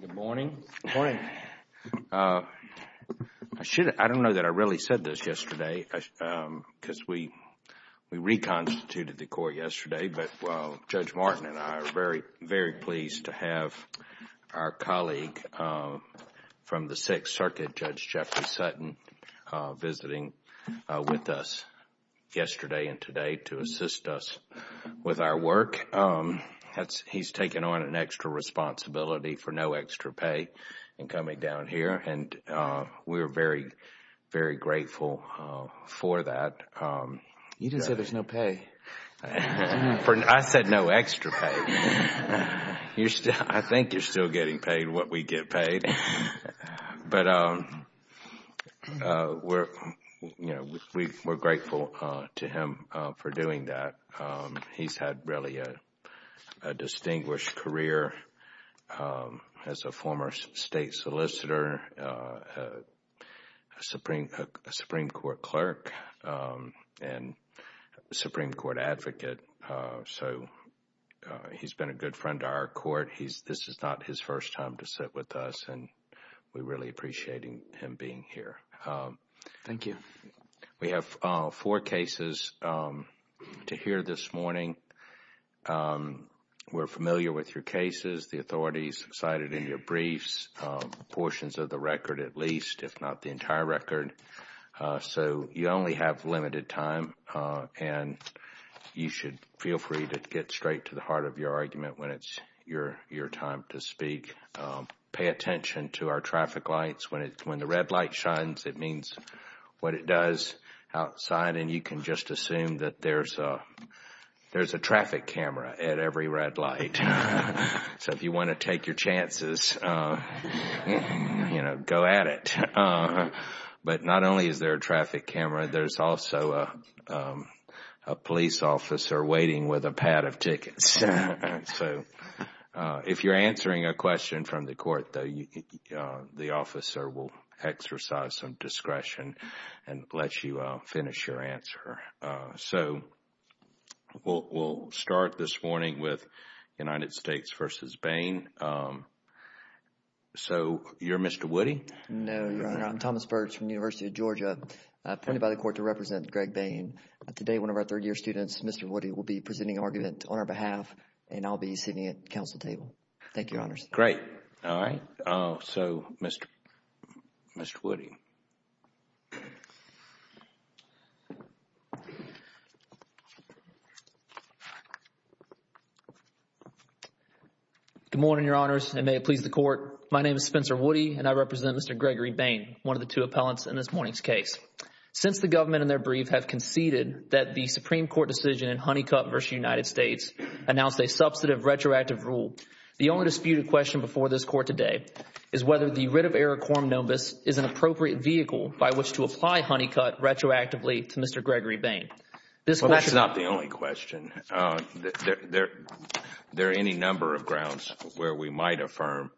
Good morning. I don't know that I really said this yesterday because we reconstituted the court yesterday, but Judge Martin and I are very pleased to have our colleague from the with our work. He's taken on an extra responsibility for no extra pay in coming down here and we're very, very grateful for that. You didn't say there's no pay. I said no extra pay. I think you're still getting paid what we get paid, but we're grateful to him for doing that. He's had really a distinguished career as a former state solicitor, a Supreme Court clerk, and Supreme Court advocate. So he's been a good friend to our court. This is not his first time to sit with us and we really appreciate him being here. Thank you. We have four cases to hear this morning. We're familiar with your cases, the authorities cited in your briefs, portions of the record at least, if not the entire record. So you only have limited time and you should feel free to get straight to the heart of your argument when it's your time to speak. Pay attention to our traffic lights. When the red light shines, it means what it does outside and you can just assume that there's a traffic camera at every red light. So if you want to take your chances, you know, go at it. But not only is there a traffic camera, there's also a police officer waiting with a pad of tickets. If you're answering a question from the court, though, the officer will exercise some discretion and let you finish your answer. So we'll start this morning with United States v. Bain. So you're Mr. Woody? No, Your Honor. I'm Thomas Birch from the University of Georgia, appointed by the court to represent Greg Bain. Today, one of our third-year students, Mr. Woody, will be presenting argument on our behalf and I'll be sitting at the counsel table. Thank you, Your Honors. Great. All right. So Mr. Woody. Good morning, Your Honors, and may it please the Court. My name is Spencer Woody and I represent Mr. Gregory Bain, one of the two appellants in this morning's case. Since the government in their brief have conceded that the Supreme Court decision in Honeycutt v. United States announced a substantive retroactive rule, the only disputed question before this Court today is whether the writ of error quorum nobis is an appropriate vehicle by which to apply Honeycutt retroactively to Mr. Gregory Bain. Well, that's not the only question. There are any number of grounds where we might affirm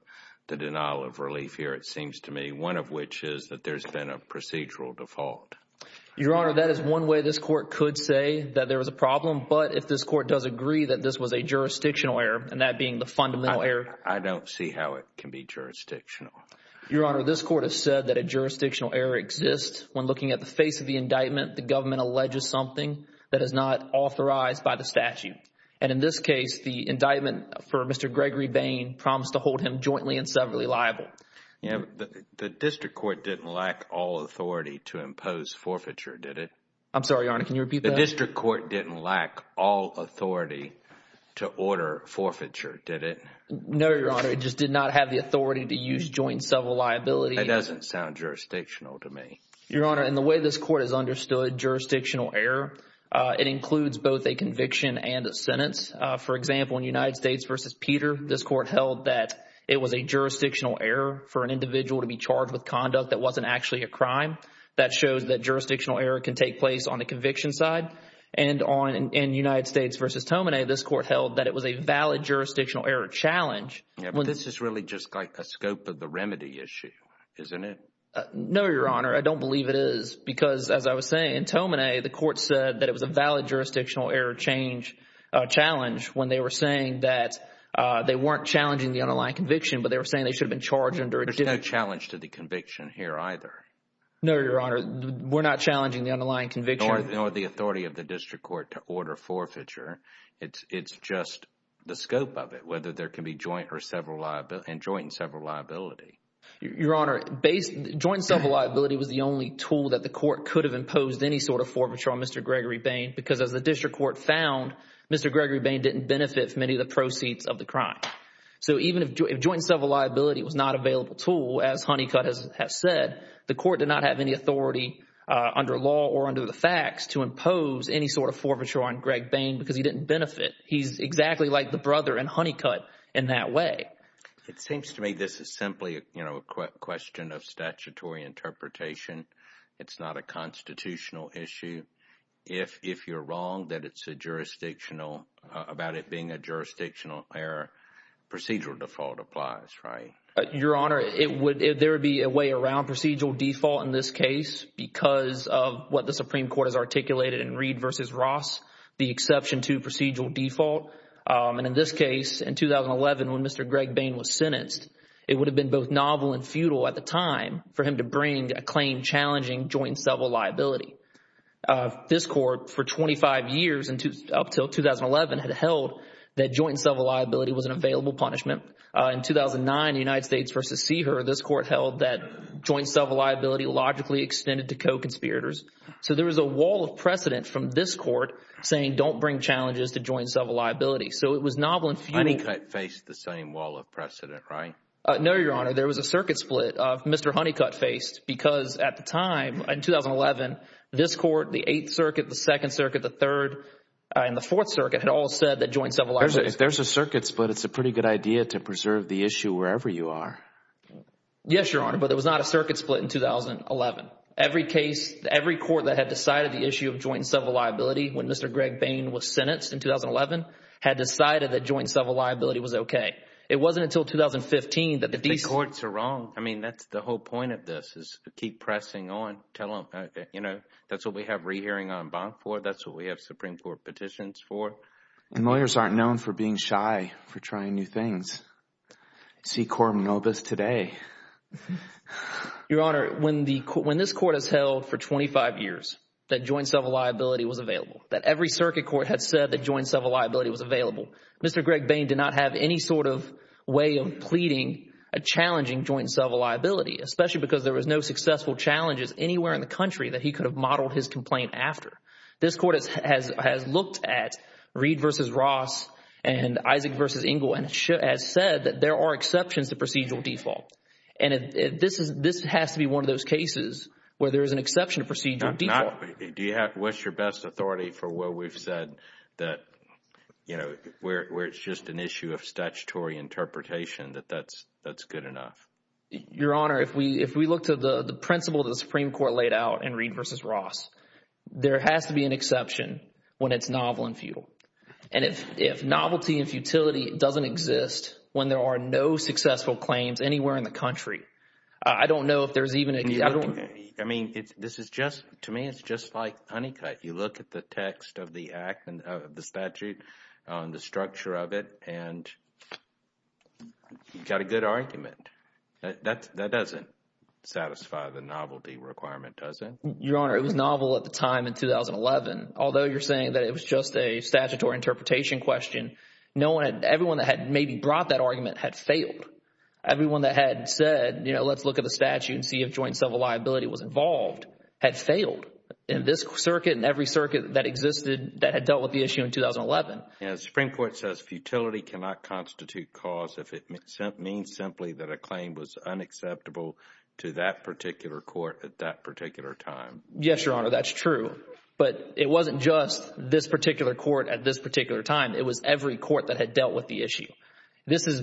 the denial of relief here, it seems to me, one of which is that there's been a procedural default. Your Honor, that is one way this Court could say that there was a problem, but if this Court does agree that this was a jurisdictional error, and that being the fundamental error, I don't see how it can be jurisdictional. Your Honor, this Court has said that a jurisdictional error exists when looking at the face of the indictment, the government alleges something that is not authorized by the statute. And in this case, the indictment for Mr. Gregory Bain promised to hold him jointly and separately liable. Yeah, but the district court didn't lack all authority to impose forfeiture, did it? I'm sorry, Your Honor, can you repeat that? The district court didn't lack all authority to order forfeiture, did it? No, Your Honor, it just did not have the authority to use joint civil liability. That doesn't sound jurisdictional to me. Your Honor, in the way this Court has understood jurisdictional error, it includes both a conviction and a sentence. For example, in United States v. Peter, this Court held that it was a jurisdictional error for an individual to be charged with conduct that wasn't actually a crime. That shows that jurisdictional error can take place on the conviction side. And in United States v. Tomine, this Court held that it was a valid jurisdictional error challenge. Yeah, but this is really just like a scope of the remedy issue, isn't it? No, Your Honor, I don't believe it is, because as I was saying, in Tomine, the Court said that it was a valid jurisdictional error challenge when they were saying that they weren't challenging the underlying conviction, but they were saying they should have been charged under a different There's no challenge to the conviction here either. No, Your Honor, we're not challenging the underlying conviction. Nor the authority of the district court to order forfeiture. It's just the scope of it, whether there can be joint and several liability. Your Honor, joint civil liability was the only tool that the Court could have imposed any sort of forfeiture on Mr. Gregory Bain, because as the district court found, Mr. Gregory Bain didn't benefit from any of the proceeds of the crime. So even if joint and several liability was not available tool, as Honeycutt has said, the Court did not have any authority under law or under the facts to impose any sort of forfeiture on Greg Bain because he didn't benefit. He's exactly like the brother in Honeycutt in that way. It seems to me this is simply, you know, a question of statutory interpretation. It's not a constitutional issue. If you're wrong that it's a jurisdictional about it being a jurisdictional error, procedural default applies, right? Your Honor, it would, there would be a way around procedural default in this case because of what the Supreme Court has articulated in Reed versus Ross, the exception to procedural default. And in this case, in 2011, when Mr. Greg Bain was sentenced, it would have been both novel and futile at the time for him to bring a claim challenging joint and several liability. This Court for 25 years and up until 2011 had held that joint and several liability was an available punishment. In 2009, United States versus Seeher, this Court held that joint and several liability logically extended to co-conspirators. So there was a wall of precedent from this Court saying don't bring challenges to joint and several liability. So it was novel and futile. Honeycutt faced the same wall of precedent, right? No, there was a circuit split of Mr. Honeycutt faced because at the time in 2011, this Court, the 8th Circuit, the 2nd Circuit, the 3rd and the 4th Circuit had all said that joint and several liabilities. If there's a circuit split, it's a pretty good idea to preserve the issue wherever you are. Yes, Your Honor, but there was not a circuit split in 2011. Every case, every court that had decided the issue of joint and several liability when Mr. Greg Bain was sentenced in 2011 had decided that joint and several liability was okay. It wasn't until 2015 that these courts are wrong. I mean, that's the whole point of this is to keep pressing on. Tell them, you know, that's what we have re-hearing on bond for. That's what we have Supreme Court petitions for. And lawyers aren't known for being shy for trying new things. See Coram Novus today. Your Honor, when this Court has held for 25 years that joint and several liability was available, that every circuit court had said that joint and several liability was available, Mr. Greg Bain did not have any sort of way of pleading a challenging joint and several liability, especially because there was no successful challenges anywhere in the country that he could have modeled his complaint after. This Court has looked at Reed v. Ross and Isaac v. Engle and has said that there are exceptions to procedural default. And this has to be one of those cases where there is an exception to procedural default. Do you wish your best authority for what we've said that, you know, where it's just an issue of statutory interpretation that that's good enough? Your Honor, if we look to the principle that the Supreme Court laid out in Reed v. Ross, there has to be an exception when it's novel and futile. And if novelty and futility doesn't exist when there are no successful claims anywhere in the country, I don't know if there's even a... I mean, this is just, to me, it's just like Honeycutt. You look at the text of the statute, the structure of it, and you've got a good argument. That doesn't satisfy the novelty requirement, does it? Your Honor, it was novel at the time in 2011. Although you're saying that it was just a statutory interpretation question, everyone that had maybe brought that argument had failed. Everyone that had said, you know, let's look at the statute and see if joint and several liability was involved had failed. In this circuit and every circuit that existed that had dealt with the issue in 2011. And the Supreme Court says futility cannot constitute cause if it means simply that a claim was unacceptable to that particular court at that particular time. Yes, Your Honor, that's true. But it wasn't just this particular court at this particular time. It was every court that had dealt with the issue. This is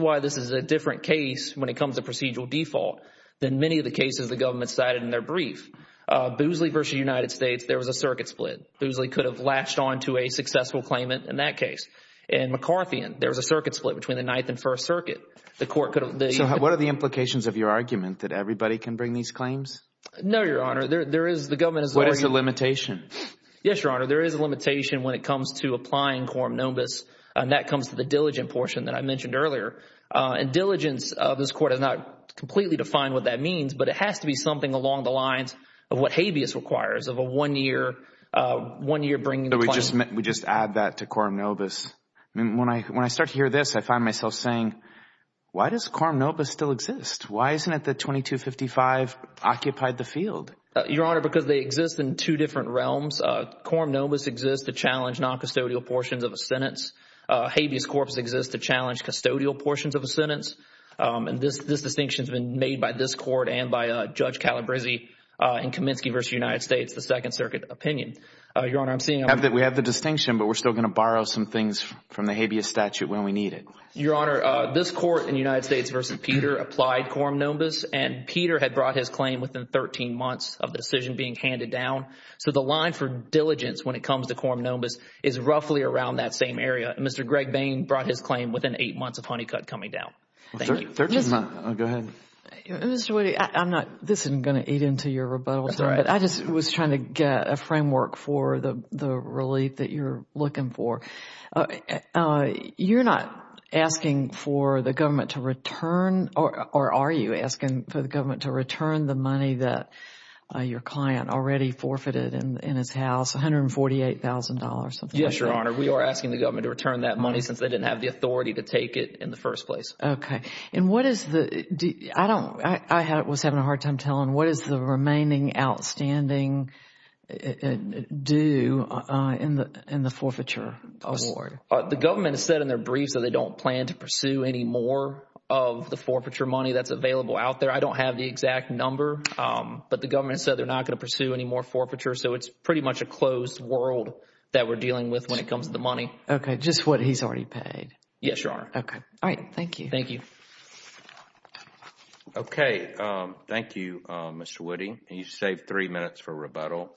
why this is a different case when it comes to procedural default than many of the cases the government cited in their brief. Boosley versus United States, there was a circuit split. Boosley could have latched on to a successful claimant in that case. In McCarthy, there was a circuit split between the Ninth and First Circuit. The court could have... So what are the implications of your argument that everybody can bring these claims? No, Your Honor, there is, the government is... What is the limitation? Yes, Your Honor, there is a limitation when it comes to applying quorum nobis, and that comes to the diligent portion that I mentioned earlier. And diligence of this court has not completely defined what that means, but it has to be something along the lines of what habeas requires of a one-year bringing the claim. We just add that to quorum nobis. When I start to hear this, I find myself saying, why does quorum nobis still exist? Why isn't it that 2255 occupied the field? Your Honor, because they exist in two different realms. Quorum nobis exists to challenge noncustodial portions of a sentence. Habeas corpus exists to challenge custodial portions of a sentence. And this distinction has been made by this court and by Judge Calabresi in Kaminsky v. United States, the Second Circuit opinion. Your Honor, I'm seeing... We have the distinction, but we're still going to borrow some things from the habeas statute when we need it. Your Honor, this court in United States v. Peter applied quorum nobis, and Peter had brought his claim within 13 months of the decision being handed down. So the line for diligence when it comes to quorum nobis is roughly around that same area. Mr. Greg Bain brought his claim within eight months of Honeycutt coming down. Thank you. They're just not... Go ahead. Mr. Woody, I'm not... This isn't going to eat into your rebuttal, but I just was trying to get a framework for the relief that you're looking for. You're not asking for the government to return or are you asking for the government to return the money that your client already forfeited in his house, $148,000 or something like that? We are asking the government to return that money since they didn't have the authority to take it in the first place. Okay. And what is the... I was having a hard time telling. What is the remaining outstanding due in the forfeiture award? The government has said in their briefs that they don't plan to pursue any more of the forfeiture money that's available out there. I don't have the exact number, but the government said they're not going to pursue any more forfeiture. So it's pretty much a closed world that we're dealing with when it comes to the money. Okay. Just what he's already paid? Yes, Your Honor. Okay. All right. Thank you. Thank you. Okay. Thank you, Mr. Woody. You saved three minutes for rebuttal.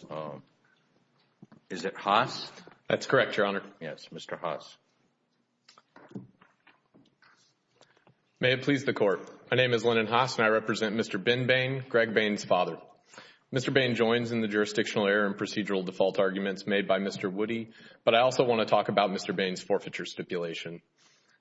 Is it Haas? That's correct, Your Honor. Yes. Mr. Haas. May it please the Court. My name is Lennon Haas and I represent Mr. Ben Bain, Greg Bain's father. Mr. Bain joins in the jurisdictional error and procedural default arguments made by Mr. Woody, but I also want to talk about Mr. Bain's forfeiture stipulation.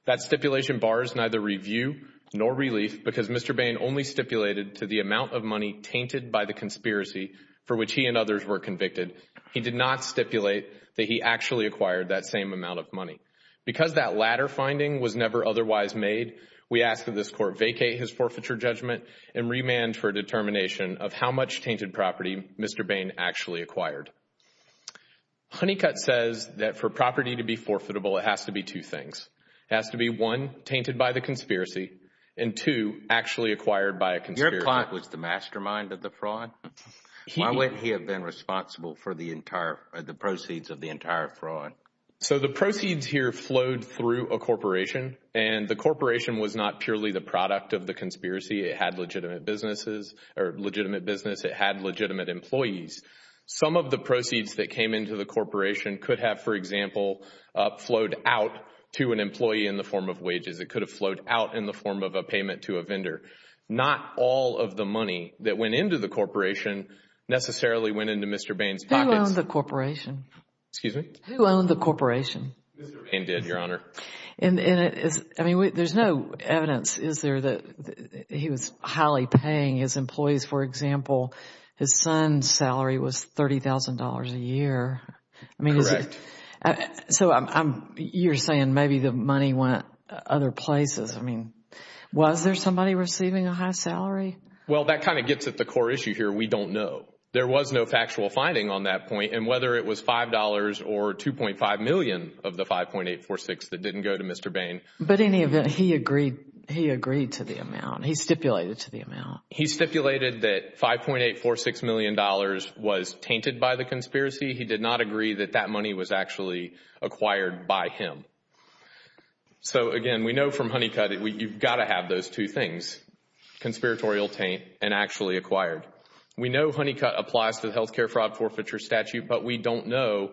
That stipulation bars neither review nor relief because Mr. Bain only stipulated to the amount of money tainted by the conspiracy for which he and others were convicted. He did not stipulate that he actually acquired that same amount of money. Because that latter finding was never otherwise made, we ask that this Court vacate his forfeiture judgment and remand for determination of how much tainted property Mr. Bain actually acquired. Honeycutt says that for property to be forfeitable, it has to be two things. It has to be one, tainted by the conspiracy, and two, actually acquired by a conspiracy. Your client was the mastermind of the fraud? Why wouldn't he have been responsible for the proceeds of the entire fraud? So the proceeds here flowed through a corporation and the corporation was not purely the product of the conspiracy. It had legitimate businesses or legitimate business. It had legitimate employees. Some of the proceeds that came into the corporation could have, for example, flowed out to an employee in the form of wages. It could have flowed out in the form of a payment to a vendor. Not all of the money that went into the corporation necessarily went into Mr. Bain's pockets. Who owned the corporation? Excuse me? Who owned the corporation? Mr. Bain did, Your Honor. And there is no evidence, is there, that he was highly paying his employees? For example, his son's salary was $30,000 a year. Correct. So you're saying maybe the money went other places. I mean, was there somebody receiving a high salary? Well, that kind of gets at the core issue here. We don't know. There was no factual finding on that point. And whether it was $5 or $2.5 million of the $5.846 million that didn't go to Mr. Bain. But in any event, he agreed to the amount. He stipulated to the amount. He stipulated that $5.846 million was tainted by the conspiracy. He did not agree that that money was actually acquired by him. So again, we know from Honeycutt, you've got to have those two things, conspiratorial taint and actually acquired. We know Honeycutt applies to the healthcare fraud forfeiture statute, but we don't know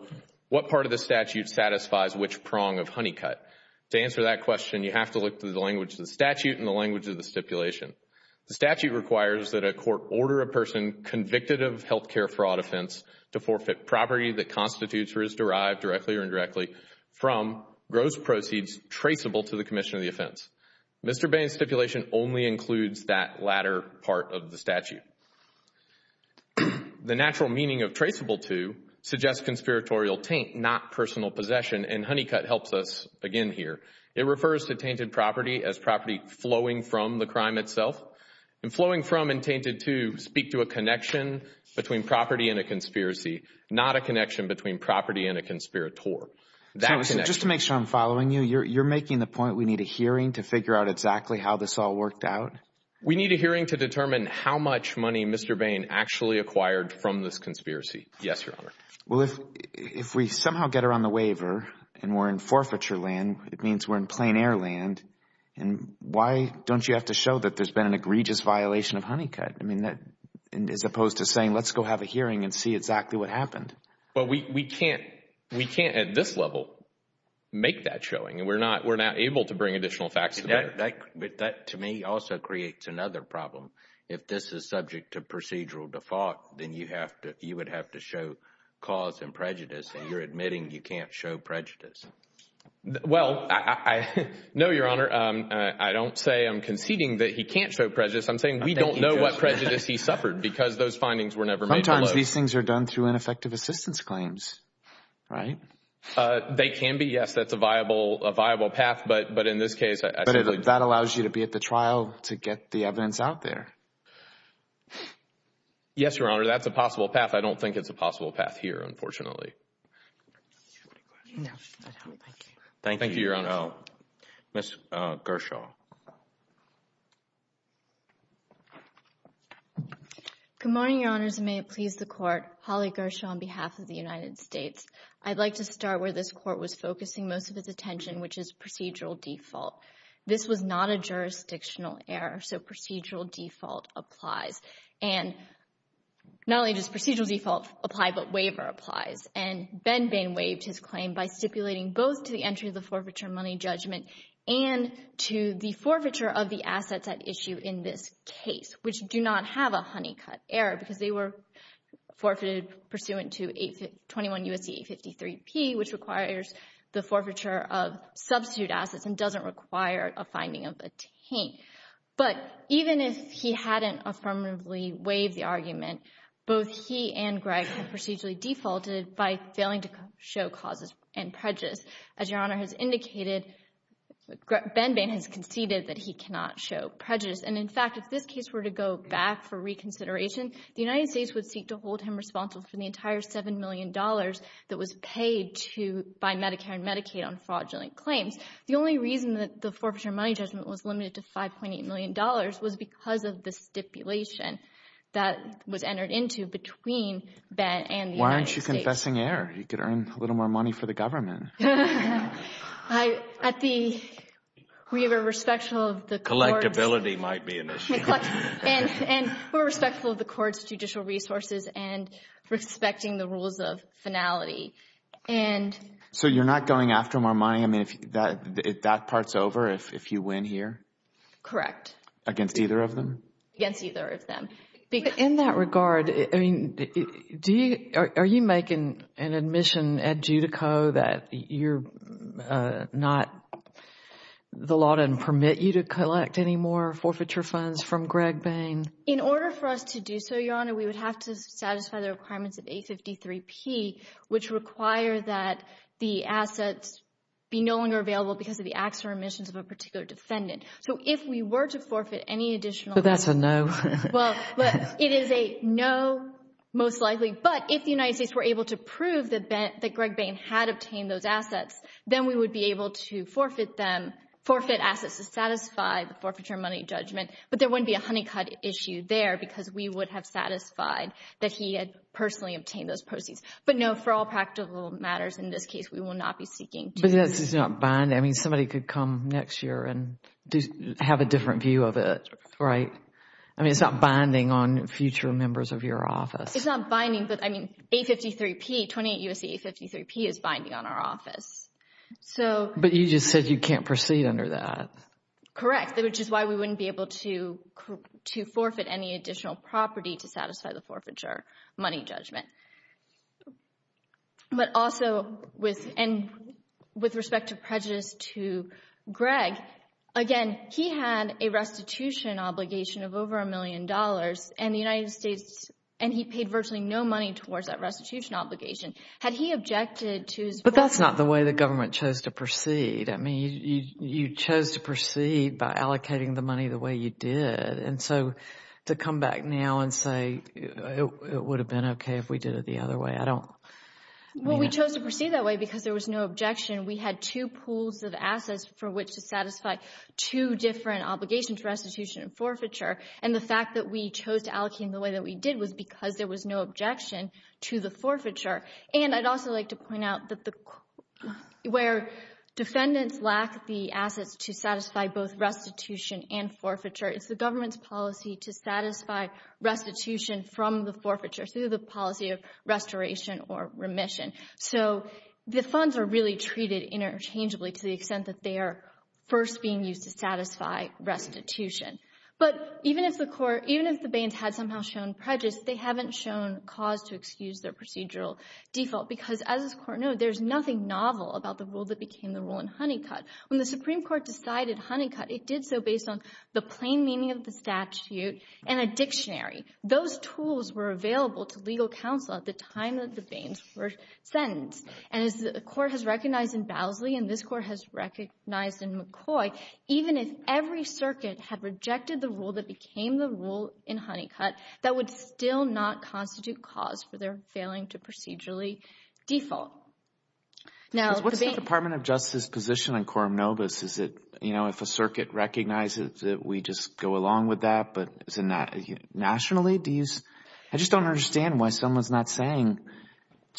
what part of the statute satisfies which prong of Honeycutt. To answer that question, you have to look through the language of the statute and the language of the stipulation. The statute requires that a court order a person convicted of healthcare fraud offense to forfeit property that constitutes or is derived directly or indirectly from gross proceeds traceable to the commission of the offense. Mr. Bain's stipulation only includes that latter part of the statute. Again, the natural meaning of traceable to suggests conspiratorial taint, not personal possession, and Honeycutt helps us again here. It refers to tainted property as property flowing from the crime itself. And flowing from and tainted to speak to a connection between property and a conspiracy, not a connection between property and a conspirator. Just to make sure I'm following you, you're making the point we need a hearing to figure out exactly how this all worked out? We need a hearing to determine how much money Mr. Bain actually acquired from this conspiracy. Yes, Your Honor. Well, if we somehow get her on the waiver and we're in forfeiture land, it means we're in plain air land. And why don't you have to show that there's been an egregious violation of Honeycutt? I mean, as opposed to saying, let's go have a hearing and see exactly what happened. Well, we can't at this level make that showing. And we're not able to bring additional facts to bear. That to me also creates another problem. If this is subject to procedural default, then you would have to show cause and prejudice. And you're admitting you can't show prejudice. Well, no, Your Honor. I don't say I'm conceding that he can't show prejudice. I'm saying we don't know what prejudice he suffered because those findings were never made below. Sometimes these things are done through ineffective assistance claims, right? They can be. Yes, that's a viable path. But in this case, that allows you to be at the trial to get the evidence out there. Yes, Your Honor, that's a possible path. I don't think it's a possible path here, unfortunately. Thank you, Your Honor. Ms. Gershaw. Good morning, Your Honors, and may it please the Court. Holly Gershaw on behalf of the United States. I'd like to start where this Court was focusing most of its attention, which is procedural default. This was not a jurisdictional error, so procedural default applies. And not only does procedural default apply, but waiver applies. And Ben Bain waived his claim by stipulating both to the entry of the forfeiture money judgment and to the forfeiture of the assets at issue in this case, which do not have a honeycut error because they were forfeited pursuant to 821 U.S.C. 853 P, which requires the forfeiture of substitute assets and doesn't require a finding of a taint. But even if he hadn't affirmatively waived the argument, both he and Greg had procedurally defaulted by failing to show causes and prejudice. As Your Honor has indicated, Ben Bain has conceded that he cannot show prejudice. And in fact, if this case were to go back for reconsideration, the United States would seek to hold him responsible for the entire $7 million that was paid to by Medicare and Medicaid on fraudulent claims. The only reason that the forfeiture money judgment was limited to $5.8 million was because of the stipulation that was entered into between Ben and the United States. Why aren't you confessing error? You could earn a little more money for the government. We are respectful of the court's judicial resources and respecting the rules of finality. So you're not going after more money? I mean, that part's over if you win here? Correct. Against either of them? Against either of them. In that regard, I mean, are you making an admission at Judico that you're not, the law doesn't permit you to collect any more forfeiture funds from Greg Bain? In order for us to do so, Your Honor, we would have to satisfy the requirements of 853P, which require that the assets be no longer available because of the acts or omissions of a particular defendant. So if we were to forfeit any additional... So that's a no? Well, it is a no, most likely. But if the United States were able to prove that Greg Bain had obtained those assets, then we would be able to forfeit them, forfeit assets to satisfy the forfeiture money judgment. But there wouldn't be a honeycut issue there because we would have satisfied that he had personally obtained those proceeds. But no, for all practical matters in this case, we will not be seeking to... But that's just not binding. I mean, somebody could come next year and have a different view of it, right? I mean, it's not binding on future members of your office. It's not binding, but I mean, 853P, 28 U.S.A. 853P is binding on our office. So... But you just said you can't proceed under that. Correct, which is why we wouldn't be able to forfeit any additional property to satisfy the forfeiture money judgment. But also, with respect to prejudice to Greg, again, he had a restitution obligation of over a million dollars, and the United States, and he paid virtually no money towards that restitution obligation. Had he objected to... But that's not the way the government chose to proceed. I mean, you chose to proceed by it would have been okay if we did it the other way. I don't... Well, we chose to proceed that way because there was no objection. We had two pools of assets for which to satisfy two different obligations, restitution and forfeiture. And the fact that we chose to allocate in the way that we did was because there was no objection to the forfeiture. And I'd also like to point out that where defendants lack the assets to satisfy both restitution and forfeiture, it's the government's policy to satisfy restitution from the forfeiture through the policy of restoration or remission. So the funds are really treated interchangeably to the extent that they are first being used to satisfy restitution. But even if the court, even if the bans had somehow shown prejudice, they haven't shown cause to excuse their procedural default. Because as this Court knows, there's nothing novel about the rule that became the rule in Honeycutt. When the Supreme Court decided Honeycutt, it did so based on the plain meaning of the statute and a dictionary. Those tools were available to legal counsel at the time that the bans were sentenced. And as the Court has recognized in Bowsley, and this Court has recognized in McCoy, even if every circuit had rejected the rule that became the rule in Honeycutt, that would still not constitute cause for their failing to procedurally default. Now... recognize that we just go along with that. But nationally, do you... I just don't understand why someone's not saying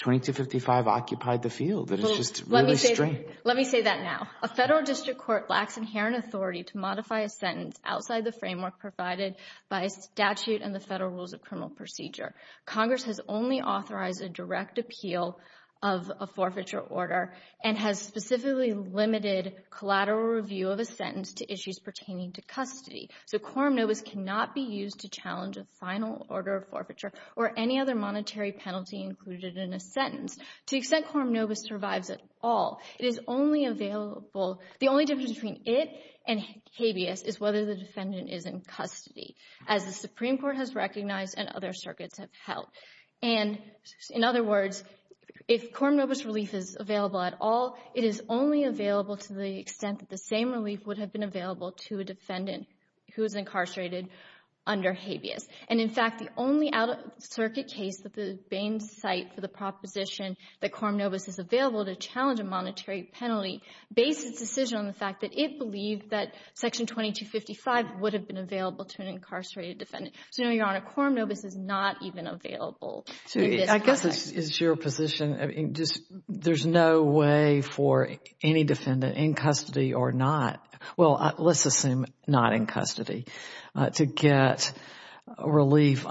2255 occupied the field. That is just really strange. Let me say that now. A federal district court lacks inherent authority to modify a sentence outside the framework provided by a statute and the federal rules of criminal procedure. Congress has only authorized a direct appeal of a forfeiture order and has specifically limited collateral review of a sentence to issues pertaining to custody. So quorum nobis cannot be used to challenge a final order of forfeiture or any other monetary penalty included in a sentence. To the extent quorum nobis survives at all, it is only available... the only difference between it and habeas is whether the defendant is in custody, as the Supreme Court has recognized and other circuits have held. And in other words, if quorum nobis relief is available at all, it is only available to the extent that the same relief would have been available to a defendant who is incarcerated under habeas. And in fact, the only out-of-circuit case that the Bain site for the proposition that quorum nobis is available to challenge a monetary penalty based its decision on the fact that it believed that section 2255 would have been available to an incarcerated defendant. So no, Your Honor, quorum nobis is not even available. I guess it's your position. There's no way for any defendant in custody or not, well, let's assume not in custody, to get relief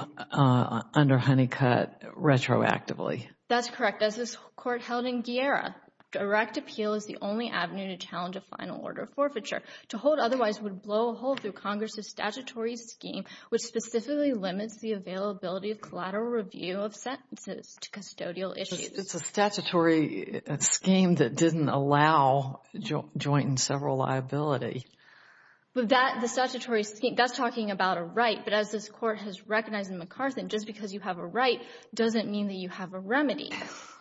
under Honeycutt retroactively. That's correct. As this Court held in Guerra, direct appeal is the only avenue to challenge a final order of forfeiture. To hold otherwise would blow a hole through Congress's statutory scheme, which specifically limits the availability of collateral review of sentences to custodial issues. It's a statutory scheme that didn't allow joint and several liability. But that, the statutory scheme, that's talking about a right. But as this Court has recognized in MacArthur, just because you have a right doesn't mean that you have a remedy.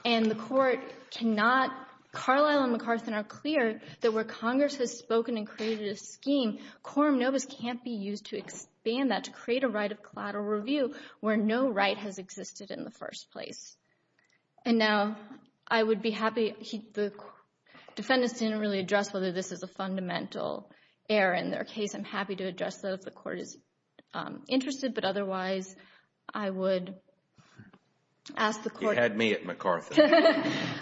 And the Court cannot, Carlisle and MacArthur are clear that where Congress has spoken and created a scheme, quorum nobis can't be used to expand that to create a right of collateral review where no right has existed in the first place. And now I would be happy, the defendants didn't really address whether this is a fundamental error in their case. I'm happy to address that if the Court is interested, but otherwise I would ask the Court. You had me at MacArthur.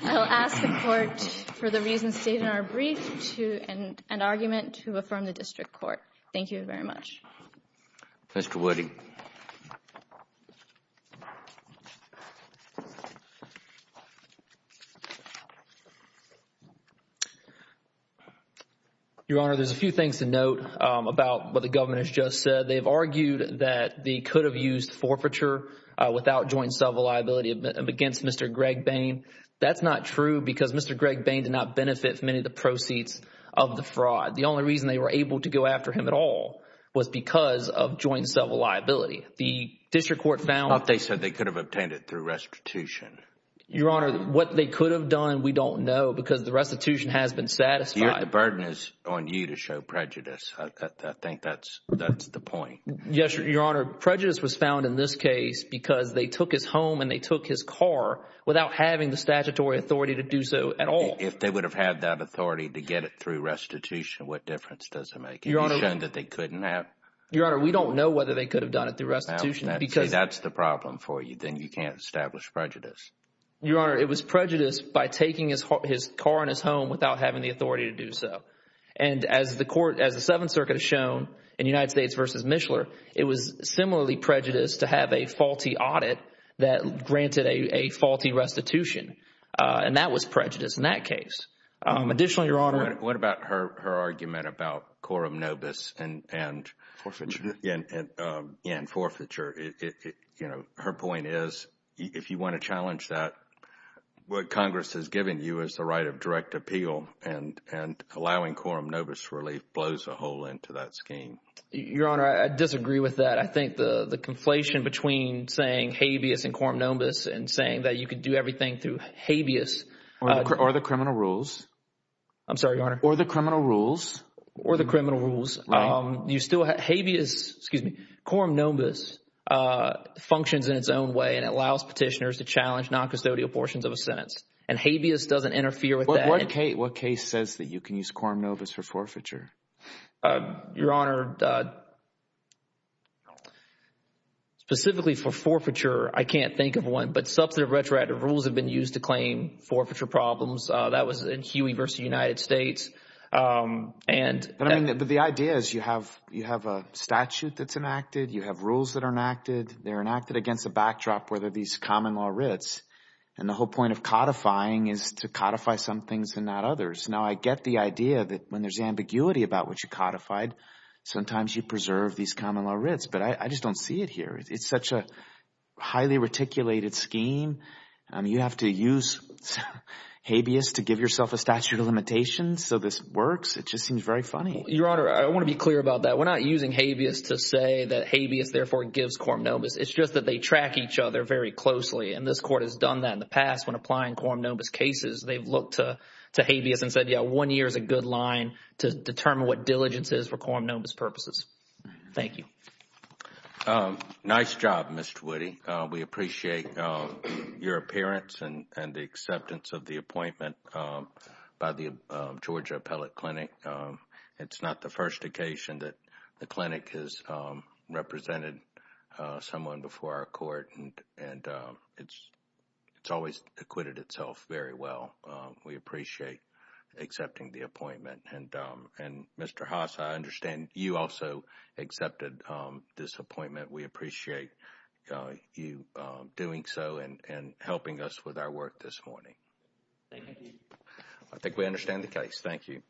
I'll ask the Court for the reasons stated in our brief to an argument to affirm the district court. Thank you very much. Mr. Woody. Your Honor, there's a few things to note about what the government has just said. They've argued that they could have used forfeiture without joint and several liability against Mr. Gregg Bain. That's not true because Mr. Gregg Bain did not benefit from any of the proceeds of the fraud. The only reason they were able to go after him at all was because of joint and several liability. The district court found- They said they could have obtained it through restitution. Your Honor, what they could have done, we don't know because the restitution has been satisfied. The burden is on you to show prejudice. I think that's the point. Yes, without having the statutory authority to do so at all. If they would have had that authority to get it through restitution, what difference does it make? Your Honor, we don't know whether they could have done it through restitution. If that's the problem for you, then you can't establish prejudice. Your Honor, it was prejudice by taking his car and his home without having the authority to do so. As the Seventh Circuit has shown in United States v. Michler, it was similarly prejudiced to have a faulty audit that granted a faulty restitution. That was prejudice in that case. Additionally, Your Honor- What about her argument about quorum nobis and forfeiture? Her point is, if you want to challenge that, what Congress has given you is the right of direct appeal and allowing quorum nobis relief blows a hole into that scheme. Your Honor, I disagree with that. I think the conflation between saying habeas and quorum nobis and saying that you could do everything through habeas- Or the criminal rules. I'm sorry, Your Honor. Or the criminal rules. Or the criminal rules. You still have habeas, excuse me, quorum nobis functions in its own way and allows petitioners to challenge noncustodial portions of a sentence. Habeas doesn't interfere with that. What case says that you can use quorum nobis for forfeiture? Your Honor, specifically for forfeiture, I can't think of one. But substantive retroactive rules have been used to claim forfeiture problems. That was in Huey versus the United States. But the idea is you have a statute that's enacted. You have rules that are enacted. They're enacted against a backdrop where there are these common law writs. And the whole point of codifying is to codify some things and not others. Now, I get the idea that when there's ambiguity about what you codified, sometimes you preserve these common law writs. But I just don't see it here. It's such a highly reticulated scheme. You have to use habeas to give yourself a statute of limitations. So this works. It just seems very funny. Your Honor, I want to be clear about that. We're not using habeas to say that habeas, therefore, gives quorum nobis. It's just that they track each other very closely. And this court has done that in the past when applying quorum nobis cases. They've looked to habeas and said, yeah, one year is a good line to determine what diligence is for quorum nobis purposes. Thank you. Nice job, Mr. Woody. We appreciate your appearance and the acceptance of the appointment by the Georgia Appellate Clinic. It's not the first occasion that the clinic has represented someone before our court. And it's always acquitted itself very well. We appreciate accepting the appointment. And Mr. Haas, I understand you also accepted this appointment. We appreciate you doing so and helping us with our work this morning. I think we understand the case. Thank you.